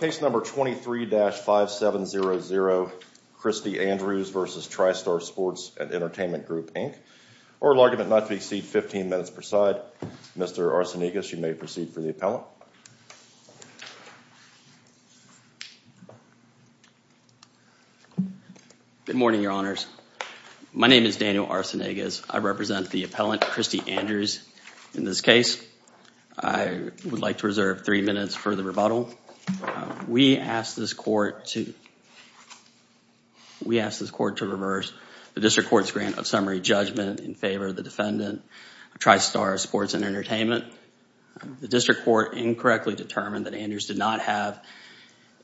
Case number 23-5700, Christy Andrews v. Tri Star Sports & Entertainment Group, Inc. Oral argument not to exceed 15 minutes per side. Mr. Arsenegas, you may proceed for the appellant. Good morning, Your Honors. My name is Daniel Arsenegas. I represent the appellant, Christy Andrews, in this case. I would like to reserve three minutes for the rebuttal. We ask this court to reverse the District Court's grant of summary judgment in favor of the defendant, Tri Star Sports & Entertainment. The District Court incorrectly determined that Andrews did not have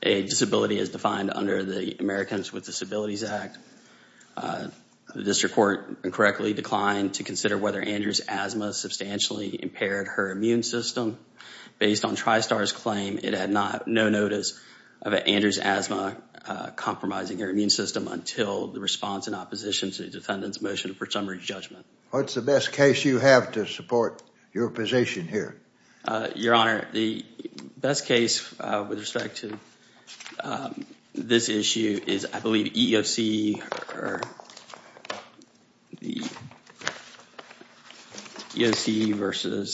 a disability as defined under the Americans with Disabilities Act. The District Court incorrectly declined to consider whether Andrews' asthma substantially impaired her immune system. Based on Tri Star's claim, it had no notice of Andrews' asthma compromising her immune system until the response in opposition to the defendant's motion for summary judgment. What's the best case you have to support your position here? Your Honor, the best case with respect to this issue is, I believe, EEOC v.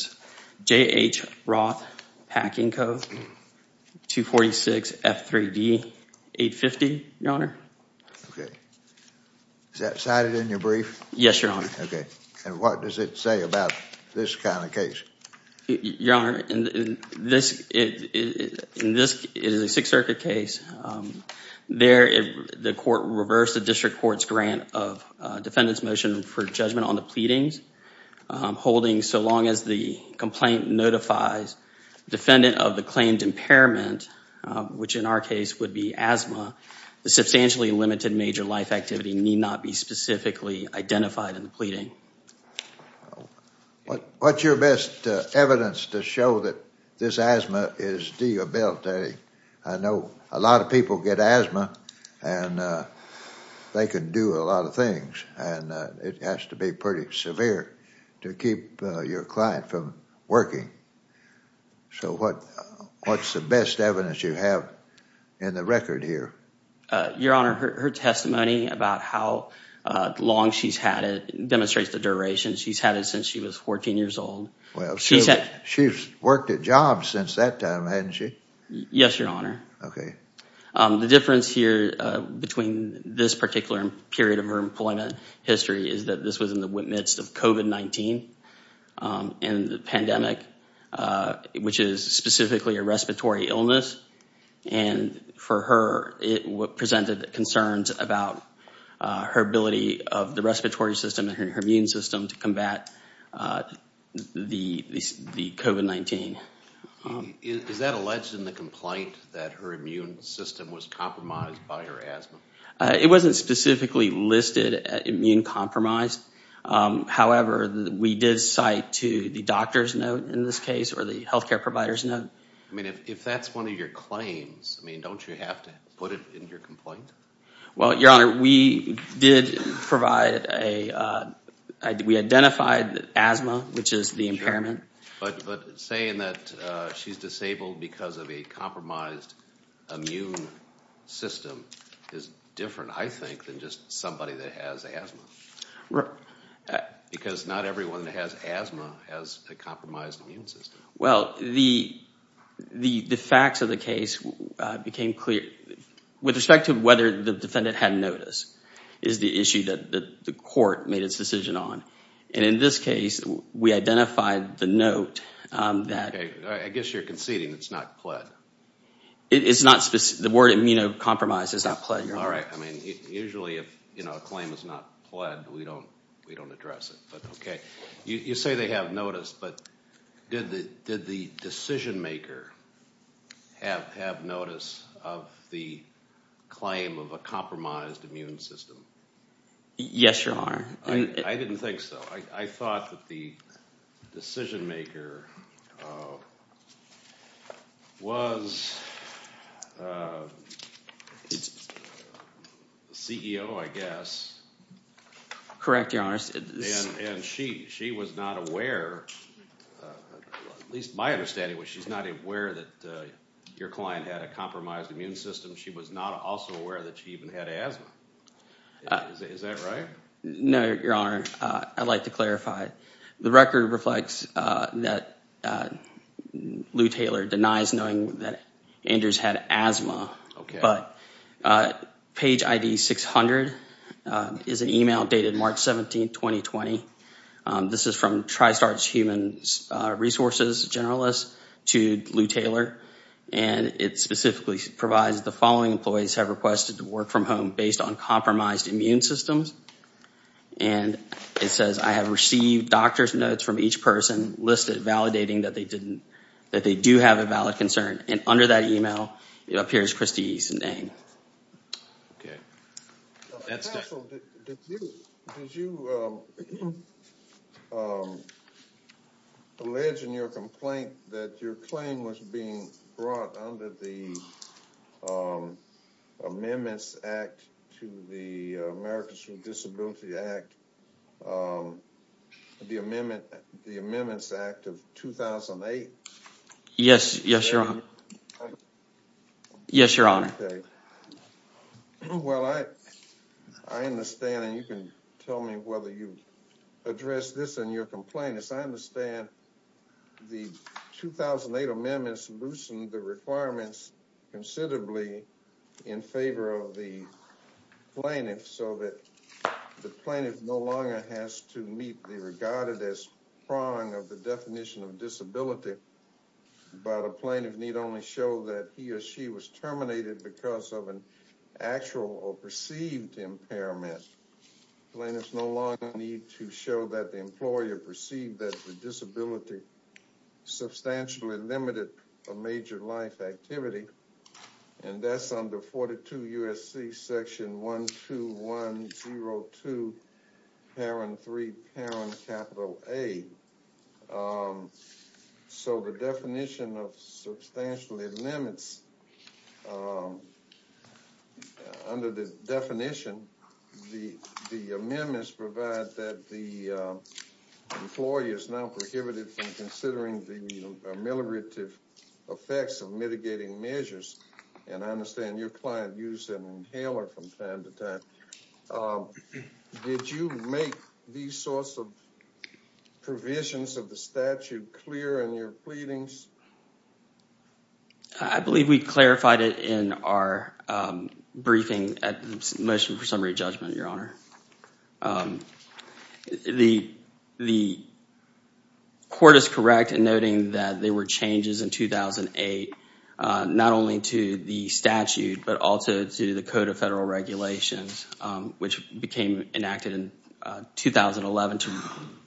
J.H. Roth Packing Code 246F3D850, Your Honor. Okay. Is that cited in your brief? Yes, Your Honor. Okay. And what does it say about this kind of case? Your Honor, this is a Sixth Circuit case. There, the court reversed the District Court's grant of defendant's motion for judgment on the pleadings, holding so long as the complaint notifies defendant of the claimed impairment, which in our case would be asthma, the substantially limited major life activity need not be specifically identified in the pleading. What's your best evidence to show that this asthma is debilitating? I know a lot of people get asthma, and they can do a lot of things, and it has to be pretty severe to keep your client from working. So what's the best evidence you have in the record here? Your Honor, her testimony about how long she's had it demonstrates the duration. She's had it since she was 14 years old. Well, she's worked at jobs since that time, hasn't she? Yes, Your Honor. Okay. The difference here between this particular period of her employment history is that this was in the midst of COVID-19 and the pandemic, which is specifically a respiratory illness. And for her, it presented concerns about her ability of the respiratory system and her immune system to combat the COVID-19. Is that alleged in the complaint that her immune system was compromised by her asthma? It wasn't specifically listed as immune compromised. However, we did cite to the doctor's note in this case or the health care provider's note. I mean, if that's one of your claims, I mean, don't you have to put it in your complaint? Well, Your Honor, we did provide a – we identified asthma, which is the impairment. But saying that she's disabled because of a compromised immune system is different, I think, than just somebody that has asthma. Because not everyone that has asthma has a compromised immune system. Well, the facts of the case became clear. With respect to whether the defendant had notice is the issue that the court made its decision on. And in this case, we identified the note that – Okay. I guess you're conceding it's not pled. It's not – the word immunocompromised is not pled, Your Honor. All right. I mean, usually if a claim is not pled, we don't address it. But okay. You say they have notice, but did the decision maker have notice of the claim of a compromised immune system? Yes, Your Honor. I didn't think so. I thought that the decision maker was CEO, I guess. Correct, Your Honor. And she was not aware – at least my understanding was she's not aware that your client had a compromised immune system. She was not also aware that she even had asthma. Is that right? No, Your Honor. I'd like to clarify. The record reflects that Lou Taylor denies knowing that Andrews had asthma. But page ID 600 is an email dated March 17, 2020. This is from TriStars Human Resources Generalist to Lou Taylor. And it specifically provides the following employees have requested to work from home based on compromised immune systems. And it says, I have received doctor's notes from each person listed validating that they do have a valid concern. And under that email, it appears Christy's name. Counsel, did you allege in your complaint that your claim was being brought under the Amendments Act to the Americans with Disabilities Act, the Amendments Act of 2008? Yes, Your Honor. Yes, Your Honor. Well, I understand, and you can tell me whether you addressed this in your complaint. As I understand, the 2008 amendments loosened the requirements considerably in favor of the plaintiff so that the plaintiff no longer has to meet the regarded as prong of the definition of disability. But a plaintiff need only show that he or she was terminated because of an actual or perceived impairment. Plaintiffs no longer need to show that the employer perceived that the disability substantially limited a major life activity. And that's under 42 U.S.C. Section 12102. Parent three parent capital aid. So the definition of substantially limits under the definition. The amendments provide that the employee is now prohibited from considering the mitigative effects of mitigating measures. And I understand your client used an inhaler from time to time. Did you make these sorts of provisions of the statute clear in your pleadings? I believe we clarified it in our briefing at the motion for summary judgment, Your Honor. The court is correct in noting that there were changes in 2008, not only to the statute, but also to the Code of Federal Regulations, which became enacted in 2011 to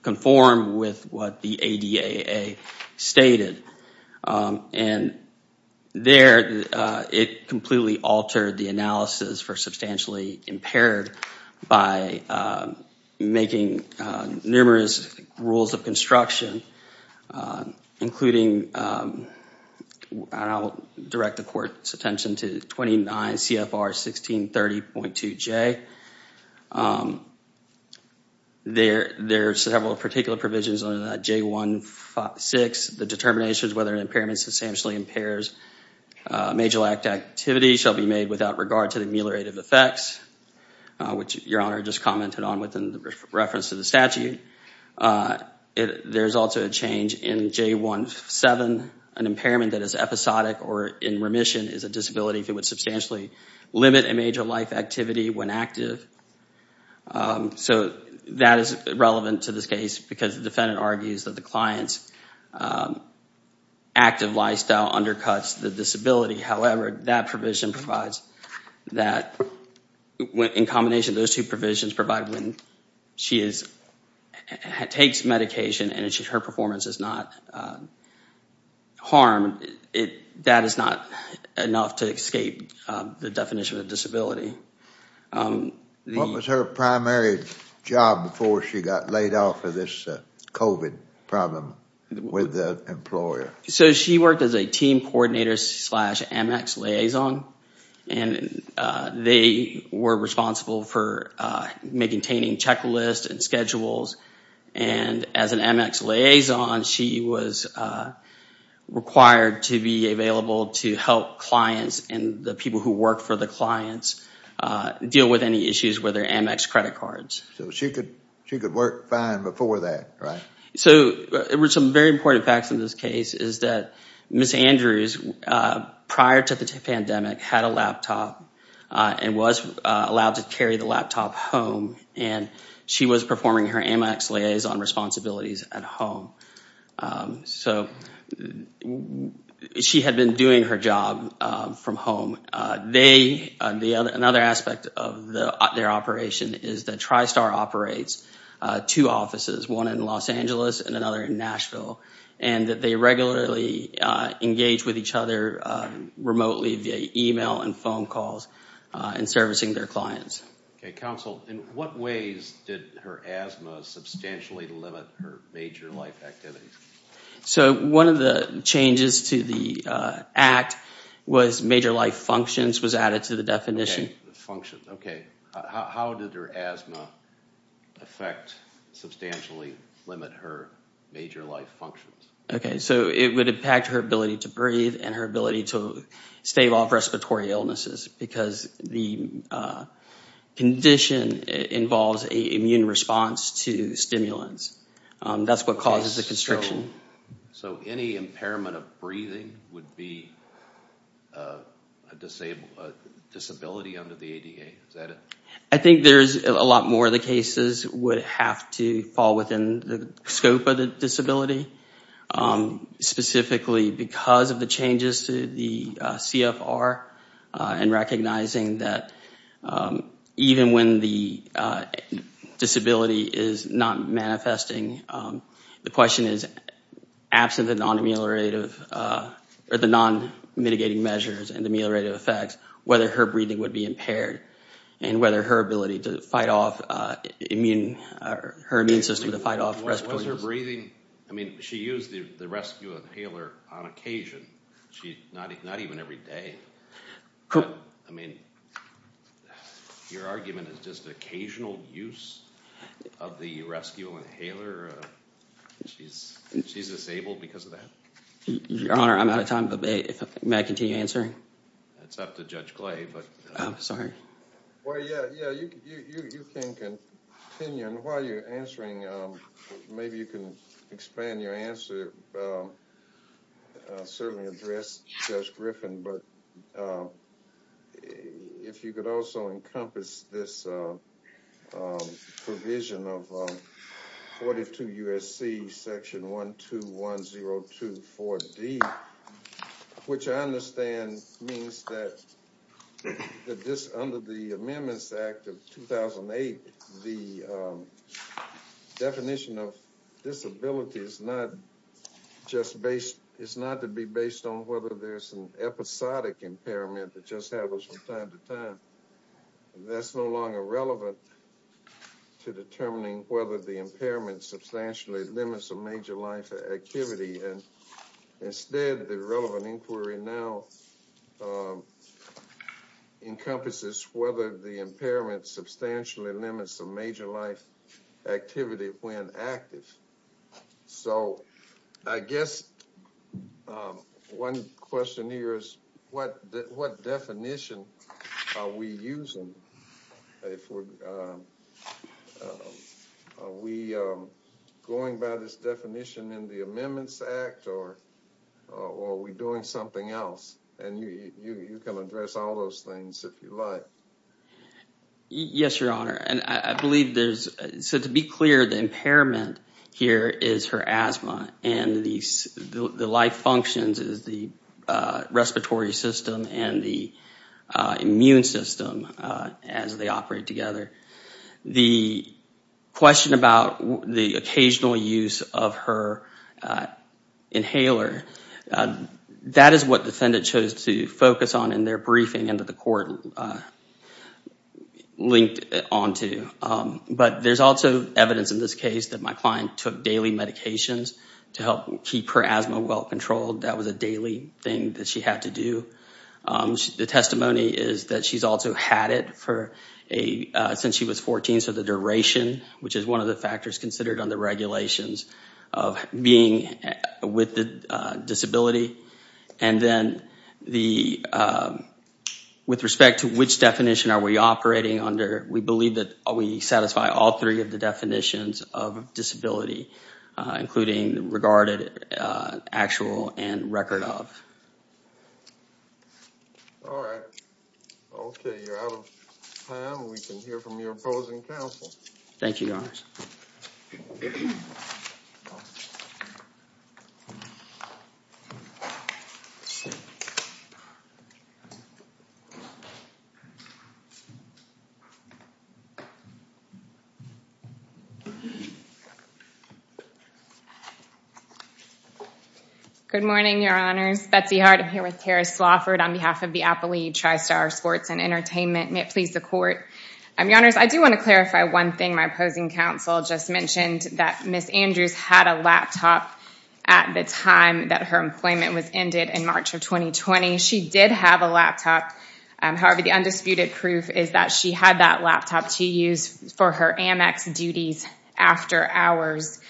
conform with what the ADAA stated. And there it completely altered the analysis for substantially impaired by making numerous rules of construction, including, and I'll direct the court's attention to 29 CFR 1630.2J. There are several particular provisions under that J156. The determinations whether an impairment substantially impairs a major life activity shall be made without regard to the ameliorative effects, which Your Honor just commented on within reference to the statute. There's also a change in J17. An impairment that is episodic or in remission is a disability if it would substantially limit a major life activity when active. So that is relevant to this case because the defendant argues that the client's active lifestyle undercuts the disability. However, that provision provides that in combination those two provisions provide when she takes medication and her performance is not harmed. That is not enough to escape the definition of disability. What was her primary job before she got laid off for this COVID problem with the employer? So she worked as a team coordinator slash Amex liaison. And they were responsible for maintaining checklists and schedules. And as an Amex liaison, she was required to be available to help clients and the people who work for the clients deal with any issues with their Amex credit cards. So she could work fine before that, right? So there were some very important facts in this case is that Ms. Andrews, prior to the pandemic, had a laptop and was allowed to carry the laptop home. And she was performing her Amex liaison responsibilities at home. So she had been doing her job from home. Another aspect of their operation is that TriStar operates two offices, one in Los Angeles and another in Nashville. And they regularly engage with each other remotely via email and phone calls in servicing their clients. Counsel, in what ways did her asthma substantially limit her major life activities? So one of the changes to the act was major life functions was added to the definition. Functions, OK. How did her asthma effect substantially limit her major life functions? OK, so it would impact her ability to breathe and her ability to stave off respiratory illnesses because the condition involves an immune response to stimulants. That's what causes the constriction. So any impairment of breathing would be a disability under the ADA, is that it? I think there's a lot more of the cases would have to fall within the scope of the disability. Specifically because of the changes to the CFR and recognizing that even when the disability is not manifesting, the question is absent the non-mitigating measures and the ameliorative effects, whether her breathing would be impaired and whether her ability to fight off immune, her immune system to fight off respiratory illnesses. Was her breathing, I mean, she used the rescue inhaler on occasion, not even every day. I mean, your argument is just occasional use of the rescue inhaler? She's disabled because of that? Your Honor, I'm out of time, but may I continue answering? It's up to Judge Clay. I'm sorry. Well, yeah, you can continue. And while you're answering, maybe you can expand your answer, certainly address Judge Griffin, but if you could also encompass this provision of 42 U.S.C. section 121024D, which I understand means that under the Amendments Act of 2008, the definition of disability is not to be based on whether there's an episodic impairment that just happens from time to time. That's no longer relevant to determining whether the impairment substantially limits a major life activity. Instead, the relevant inquiry now encompasses whether the impairment substantially limits a major life activity when active. So I guess one question here is what definition are we using? Are we going by this definition in the Amendments Act, or are we doing something else? And you can address all those things if you like. Yes, Your Honor. So to be clear, the impairment here is her asthma, and the life functions is the respiratory system and the immune system as they operate together. The question about the occasional use of her inhaler, that is what the defendant chose to focus on in their briefing into the court linked onto. But there's also evidence in this case that my client took daily medications to help keep her asthma well-controlled. That was a daily thing that she had to do. The testimony is that she's also had it since she was 14, so the duration, which is one of the factors considered under regulations of being with a disability. And then with respect to which definition are we operating under, we believe that we satisfy all three of the definitions of disability, including regarded, actual, and record of. All right. Okay, you're out of time. We can hear from your opposing counsel. Thank you, Your Honor. Good morning, Your Honors. I'm Betsy Hart. I'm here with Kara Slafford on behalf of the Appalachian TriStar Sports and Entertainment. May it please the Court. Your Honors, I do want to clarify one thing. My opposing counsel just mentioned that Ms. Andrews had a laptop at the time that her employment was ended in March of 2020. She did have a laptop. However, the undisputed proof is that she had that laptop to use for her Amex duties after hours.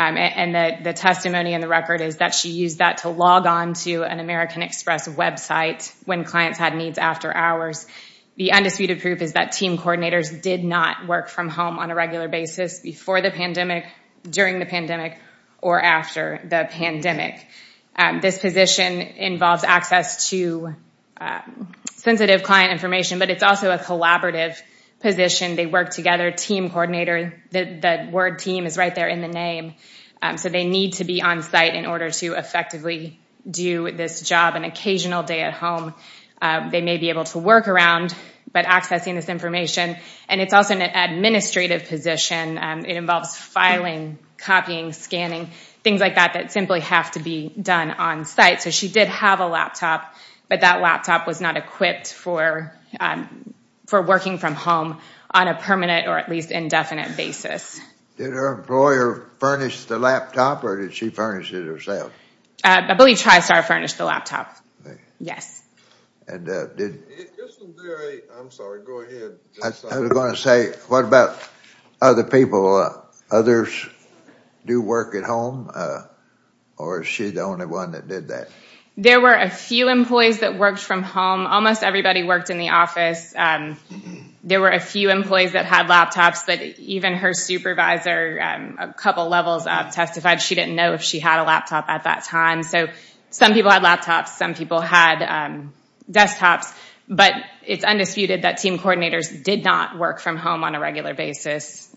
And the testimony in the record is that she used that to log on to an American Express website when clients had needs after hours. The undisputed proof is that team coordinators did not work from home on a regular basis before the pandemic, during the pandemic, or after the pandemic. This position involves access to sensitive client information, but it's also a collaborative position. They work together. Team coordinator, the word team is right there in the name. So they need to be on-site in order to effectively do this job on an occasional day at home. They may be able to work around, but accessing this information. And it's also an administrative position. It involves filing, copying, scanning, things like that that simply have to be done on-site. So she did have a laptop, but that laptop was not equipped for working from home on a permanent or at least indefinite basis. Did her employer furnish the laptop or did she furnish it herself? I believe TriStar furnished the laptop. I was going to say, what about other people? Others do work at home, or is she the only one that did that? There were a few employees that worked from home. Almost everybody worked in the office. There were a few employees that had laptops, but even her supervisor, a couple levels up, testified she didn't know if she had a laptop at that time. So some people had laptops. Some people had desktops. But it's undisputed that team coordinators did not work from home on a regular basis.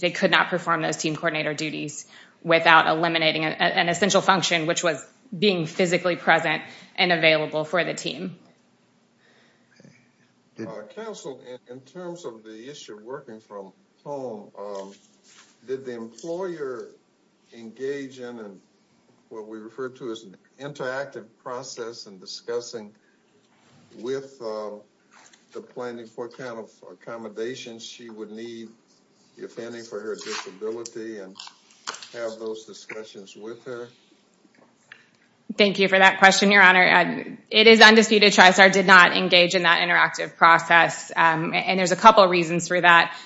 They could not perform those team coordinator duties without eliminating an essential function, which was being physically present and available for the team. Council, in terms of the issue of working from home, did the employer engage in what we refer to as an interactive process in discussing with the planning for account of accommodations she would need, if any, for her disability and have those discussions with her? Thank you for that question, Your Honor. It is undisputed TriStar did not engage in that interactive process, and there's a couple reasons for that.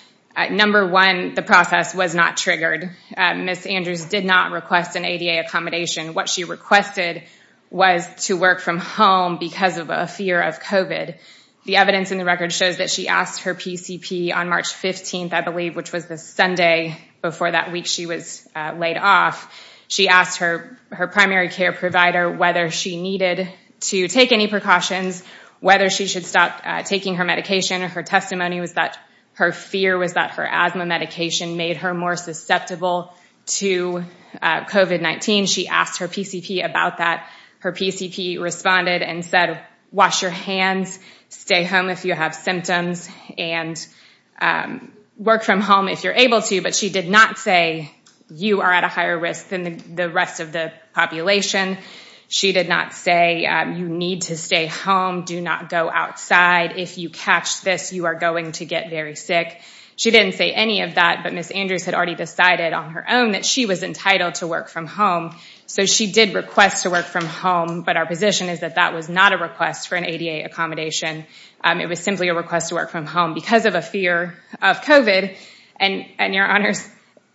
Number one, the process was not triggered. Ms. Andrews did not request an ADA accommodation. What she requested was to work from home because of a fear of COVID. The evidence in the record shows that she asked her PCP on March 15th, I believe, which was the Sunday before that week she was laid off. She asked her primary care provider whether she needed to take any precautions, whether she should stop taking her medication. Her testimony was that her fear was that her asthma medication made her more susceptible to COVID-19. She asked her PCP about that. Her PCP responded and said, wash your hands, stay home if you have symptoms, and work from home if you're able to. But she did not say, you are at a higher risk than the rest of the population. She did not say, you need to stay home, do not go outside. If you catch this, you are going to get very sick. She didn't say any of that, but Ms. Andrews had already decided on her own that she was entitled to work from home. So she did request to work from home, but our position is that that was not a request for an ADA accommodation. It was simply a request to work from home because of a fear of COVID. And your honors,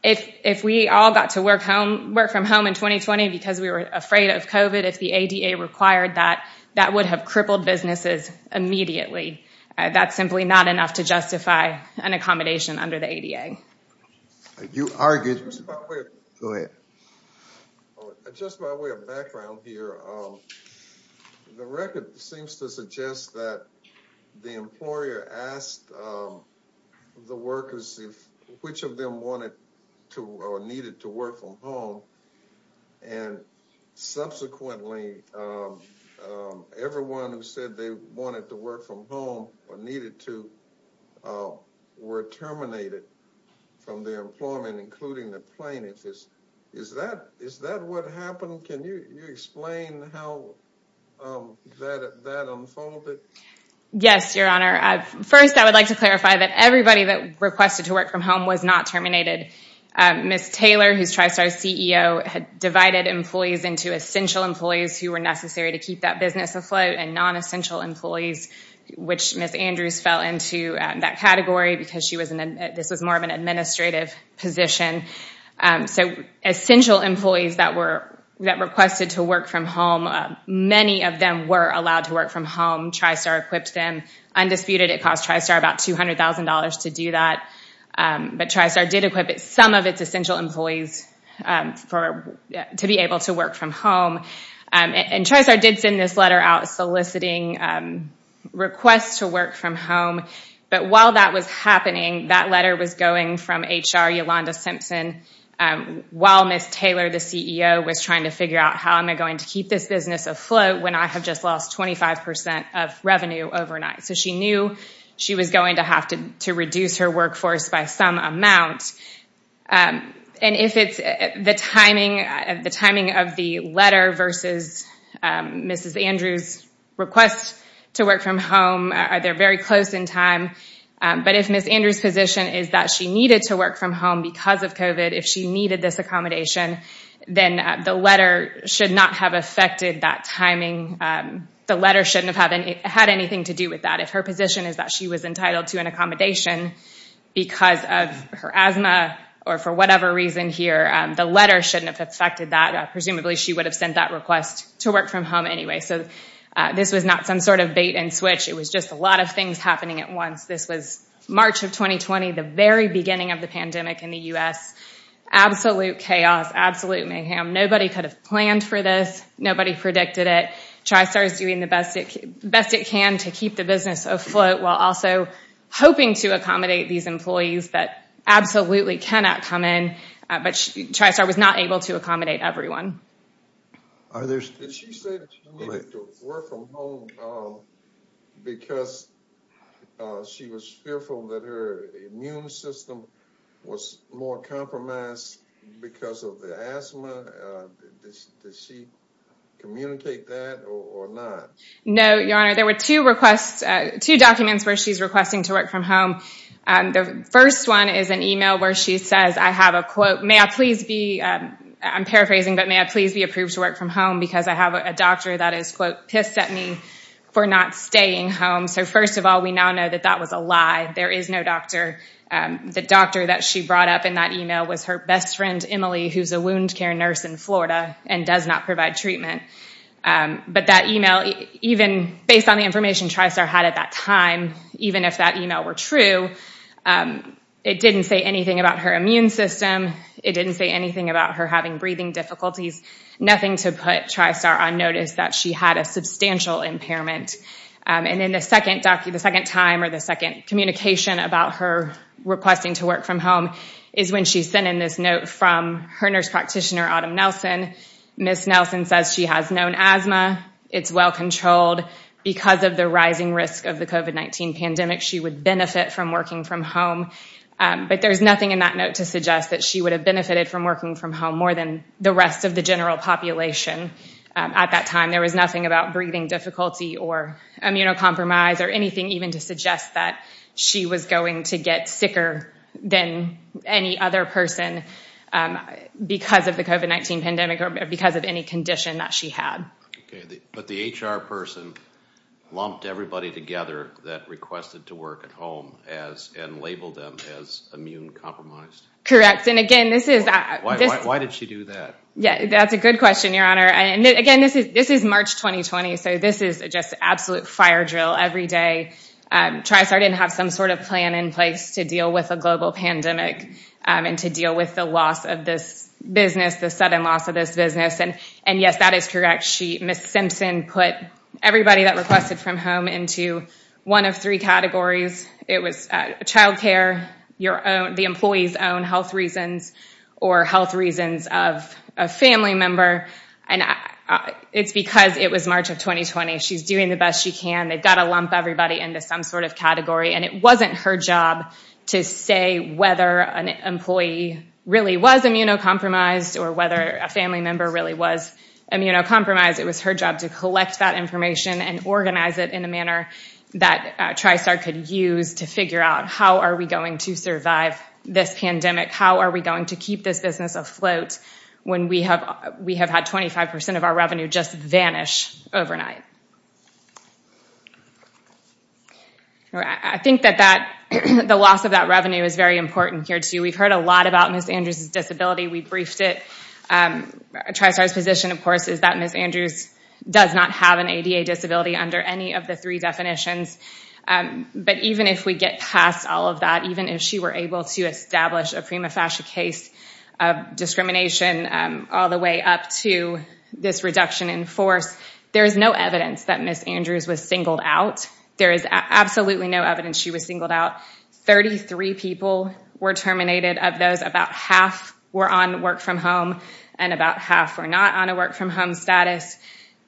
if we all got to work from home in 2020 because we were afraid of COVID, if the ADA required that, that would have crippled businesses immediately. That's simply not enough to justify an accommodation under the ADA. You are good. Go ahead. Just by way of background here, the record seems to suggest that the employer asked the workers which of them wanted to or needed to work from home. And subsequently, everyone who said they wanted to work from home or needed to were terminated from their employment, including the plaintiffs. Is that what happened? Can you explain how that unfolded? Yes, your honor. First, I would like to clarify that everybody that requested to work from home was not terminated. Ms. Taylor, who is TriStar's CEO, had divided employees into essential employees who were necessary to keep that business afloat and non-essential employees, which Ms. Andrews fell into that category because this was more of an administrative position. So essential employees that requested to work from home, many of them were allowed to work from home. TriStar equipped them. Undisputed, it cost TriStar about $200,000 to do that. But TriStar did equip some of its essential employees to be able to work from home. And TriStar did send this letter out soliciting requests to work from home. But while that was happening, that letter was going from HR, Yolanda Simpson, while Ms. Taylor, the CEO, was trying to figure out how am I going to keep this business afloat when I have just lost 25% of revenue overnight. So she knew she was going to have to reduce her workforce by some amount. And if it's the timing of the letter versus Ms. Andrews' request to work from home, they're very close in time. But if Ms. Andrews' position is that she needed to work from home because of COVID, if she needed this accommodation, then the letter should not have affected that timing. The letter shouldn't have had anything to do with that. If her position is that she was entitled to an accommodation because of her asthma or for whatever reason here, the letter shouldn't have affected that. Presumably she would have sent that request to work from home anyway. So this was not some sort of bait and switch. It was just a lot of things happening at once. This was March of 2020, the very beginning of the pandemic in the U.S. Absolute chaos, absolute mayhem. Nobody could have planned for this. Nobody predicted it. TriStar is doing the best it can to keep the business afloat while also hoping to accommodate these employees that absolutely cannot come in. But TriStar was not able to accommodate everyone. Did she say that she needed to work from home because she was fearful that her immune system was more compromised because of the asthma? Did she communicate that or not? No, Your Honor. There were two requests, two documents where she's requesting to work from home. The first one is an email where she says, I have a quote, may I please be, I'm paraphrasing, but may I please be approved to work from home because I have a doctor that is, quote, pissed at me for not staying home. So first of all, we now know that that was a lie. There is no doctor. The doctor that she brought up in that email was her best friend, Emily, who's a wound care nurse in Florida and does not provide treatment. But that email, even based on the information TriStar had at that time, even if that email were true, it didn't say anything about her immune system. It didn't say anything about her having breathing difficulties, nothing to put TriStar on notice that she had a substantial impairment. And then the second time or the second communication about her requesting to work from home is when she sent in this note from her nurse practitioner, Autumn Nelson. Miss Nelson says she has known asthma. It's well controlled. Because of the rising risk of the COVID-19 pandemic, she would benefit from working from home. But there's nothing in that note to suggest that she would have benefited from working from home more than the rest of the general population at that time. There was nothing about breathing difficulty or immunocompromise or anything even to suggest that she was going to get sicker than any other person because of the COVID-19 pandemic or because of any condition that she had. But the HR person lumped everybody together that requested to work at home and labeled them as immune-compromised. Correct. And again, this is... Why did she do that? That's a good question, Your Honor. And again, this is March 2020, so this is just absolute fire drill every day. TriStar didn't have some sort of plan in place to deal with a global pandemic and to deal with the loss of this business, the sudden loss of this business. And yes, that is correct. Miss Simpson put everybody that requested from home into one of three categories. It was child care, the employees' own health reasons or health reasons of a family member. And it's because it was March of 2020. She's doing the best she can. They've got to lump everybody into some sort of category. And it wasn't her job to say whether an employee really was immunocompromised or whether a family member really was immunocompromised. It was her job to collect that information and organize it in a manner that TriStar could use to figure out how are we going to survive this pandemic, how are we going to keep this business afloat when we have had 25% of our revenue just vanish overnight. I think that the loss of that revenue is very important here, too. We've heard a lot about Miss Andrews' disability. We briefed it. TriStar's position, of course, is that Miss Andrews does not have an ADA disability under any of the three definitions. But even if we get past all of that, even if she were able to establish a prima facie case of discrimination all the way up to this reduction in force, there is no evidence that Miss Andrews was singled out. There is absolutely no evidence she was singled out. Thirty-three people were terminated of those about half were on work from home and about half were not on a work from home status.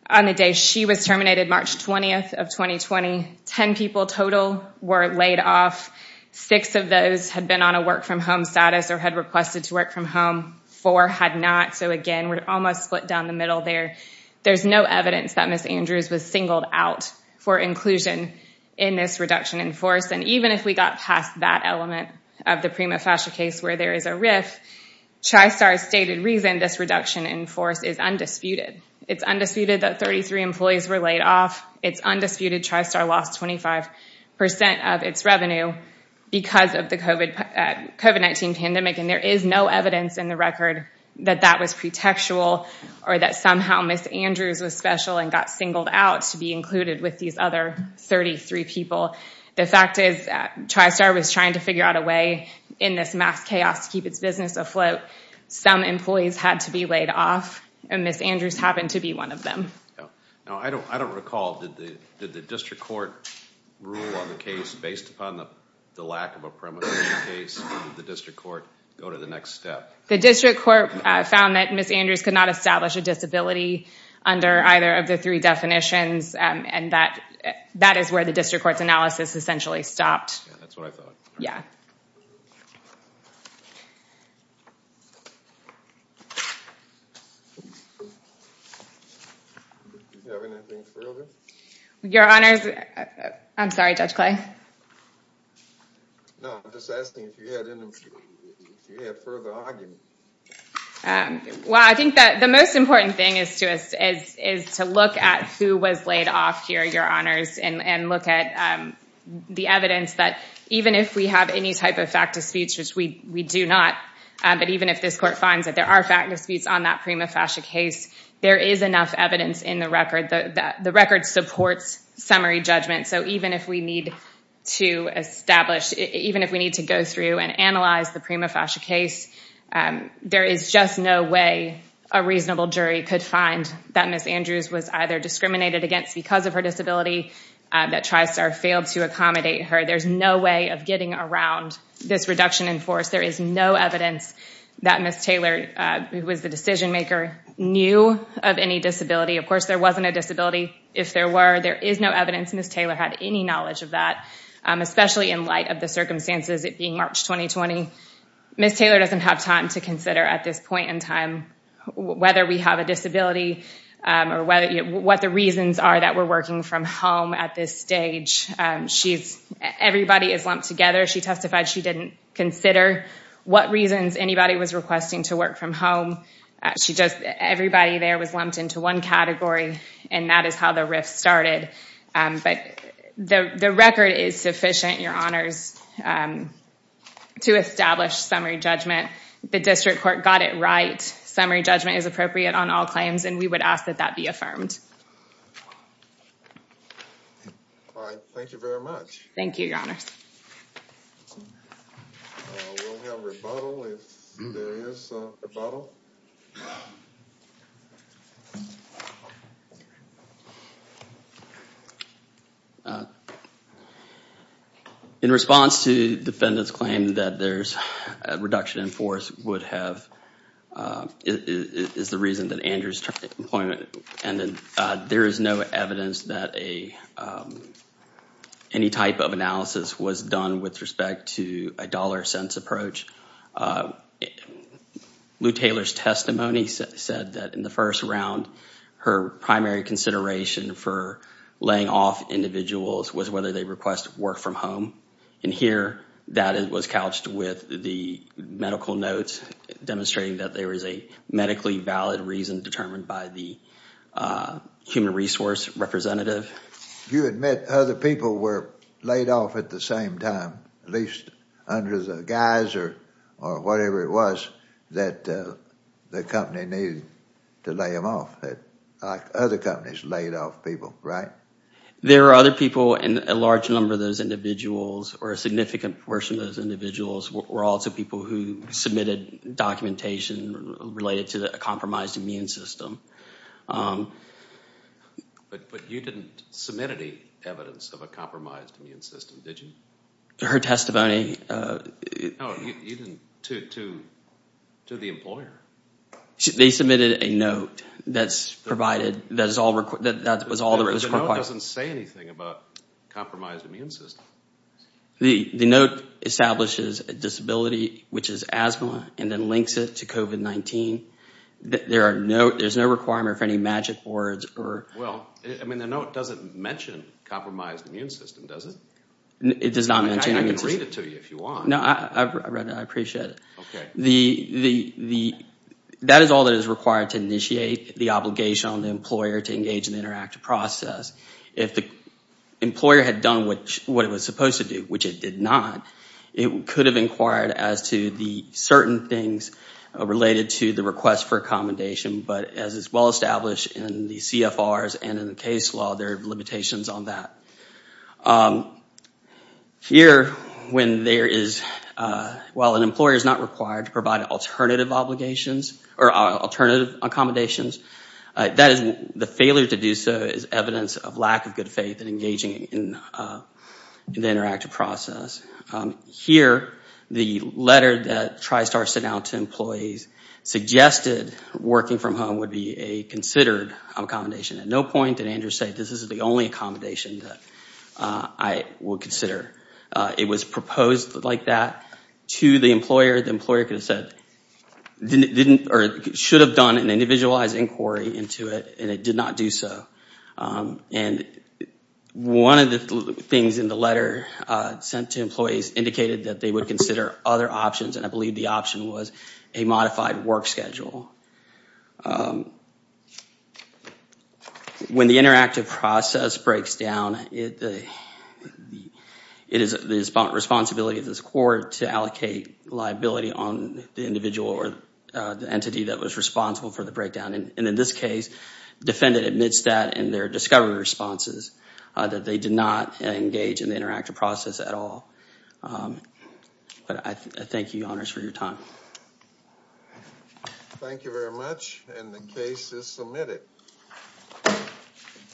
On the day she was terminated, March 20th of 2020, ten people total were laid off. Six of those had been on a work from home status or had requested to work from home. Four had not. So, again, we're almost split down the middle there. There's no evidence that Miss Andrews was singled out for inclusion in this reduction in force. And even if we got past that element of the prima facie case where there is a RIF, TriStar's stated reason this reduction in force is undisputed. It's undisputed that 33 employees were laid off. It's undisputed TriStar lost 25% of its revenue because of the COVID-19 pandemic, and there is no evidence in the record that that was pretextual or that somehow Miss Andrews was special and got singled out to be included with these other 33 people. The fact is TriStar was trying to figure out a way in this mass chaos to keep its business afloat. Some employees had to be laid off, and Miss Andrews happened to be one of them. I don't recall, did the district court rule on the case based upon the lack of a prima facie case, or did the district court go to the next step? The district court found that Miss Andrews could not establish a disability under either of the three definitions, and that is where the district court's analysis essentially stopped. That's what I thought. Yeah. Do you have anything further? Your Honors, I'm sorry, Judge Clay. No, I'm just asking if you had further argument. Well, I think that the most important thing is to look at who was laid off here, Your Honors, and look at the evidence that even if we have any type of fact of speech, which we do not, but even if this court finds that there are fact of speech on that prima facie case, there is enough evidence in the record. The record supports summary judgment, so even if we need to go through and analyze the prima facie case, there is just no way a reasonable jury could find that Miss Andrews was either discriminated against because of her disability or failed to accommodate her. There's no way of getting around this reduction in force. There is no evidence that Miss Taylor, who was the decision maker, knew of any disability. Of course, there wasn't a disability. If there were, there is no evidence Miss Taylor had any knowledge of that, especially in light of the circumstances, it being March 2020. Miss Taylor doesn't have time to consider at this point in time whether we have a disability or what the reasons are that we're working from home at this stage. Everybody is lumped together. She testified she didn't consider what reasons anybody was requesting to work from home. Everybody there was lumped into one category, and that is how the rift started. The record is sufficient, Your Honors, to establish summary judgment. The district court got it right. Summary judgment is appropriate on all claims, and we would ask that that be affirmed. All right, thank you very much. Thank you, Your Honors. We'll have rebuttal if there is a rebuttal. In response to the defendant's claim that there's a reduction in force is the reason that Andrews turned employment. There is no evidence that any type of analysis was done with respect to a dollar-cents approach. Lou Taylor's testimony said that in the first round, her primary consideration for laying off individuals was whether they request work from home. In here, that was couched with the medical notes demonstrating that there is a medically valid reason determined by the human resource representative. You admit other people were laid off at the same time, at least under the guise or whatever it was that the company needed to lay them off, like other companies laid off people, right? There are other people, and a large number of those individuals or a significant portion of those individuals were also people who submitted documentation related to a compromised immune system. But you didn't submit any evidence of a compromised immune system, did you? Her testimony... No, you didn't, to the employer. They submitted a note that was all that was required. The note doesn't say anything about a compromised immune system. The note establishes a disability, which is asthma, and then links it to COVID-19. There's no requirement for any magic words or... Well, I mean, the note doesn't mention a compromised immune system, does it? It does not mention an immune system. I can read it to you if you want. No, I've read it. I appreciate it. That is all that is required to initiate the obligation on the employer to engage in the interactive process. If the employer had done what it was supposed to do, which it did not, it could have inquired as to the certain things related to the request for accommodation. But as is well established in the CFRs and in the case law, there are limitations on that. Here, when there is... While an employer is not required to provide alternative obligations or alternative accommodations, the failure to do so is evidence of lack of good faith in engaging in the interactive process. Here, the letter that TriStar sent out to employees suggested working from home would be a considered accommodation. At no point did Andrew say, this is the only accommodation that I would consider. It was proposed like that to the employer. The employer could have said, or should have done an individualized inquiry into it, and it did not do so. And one of the things in the letter sent to employees indicated that they would consider other options, and I believe the option was a modified work schedule. When the interactive process breaks down, it is the responsibility of this court to allocate liability on the individual or the entity that was responsible for the breakdown. And in this case, defendant admits that in their discovery responses, that they did not engage in the interactive process at all. But I thank you, Your Honors, for your time. Thank you very much, and the case is submitted.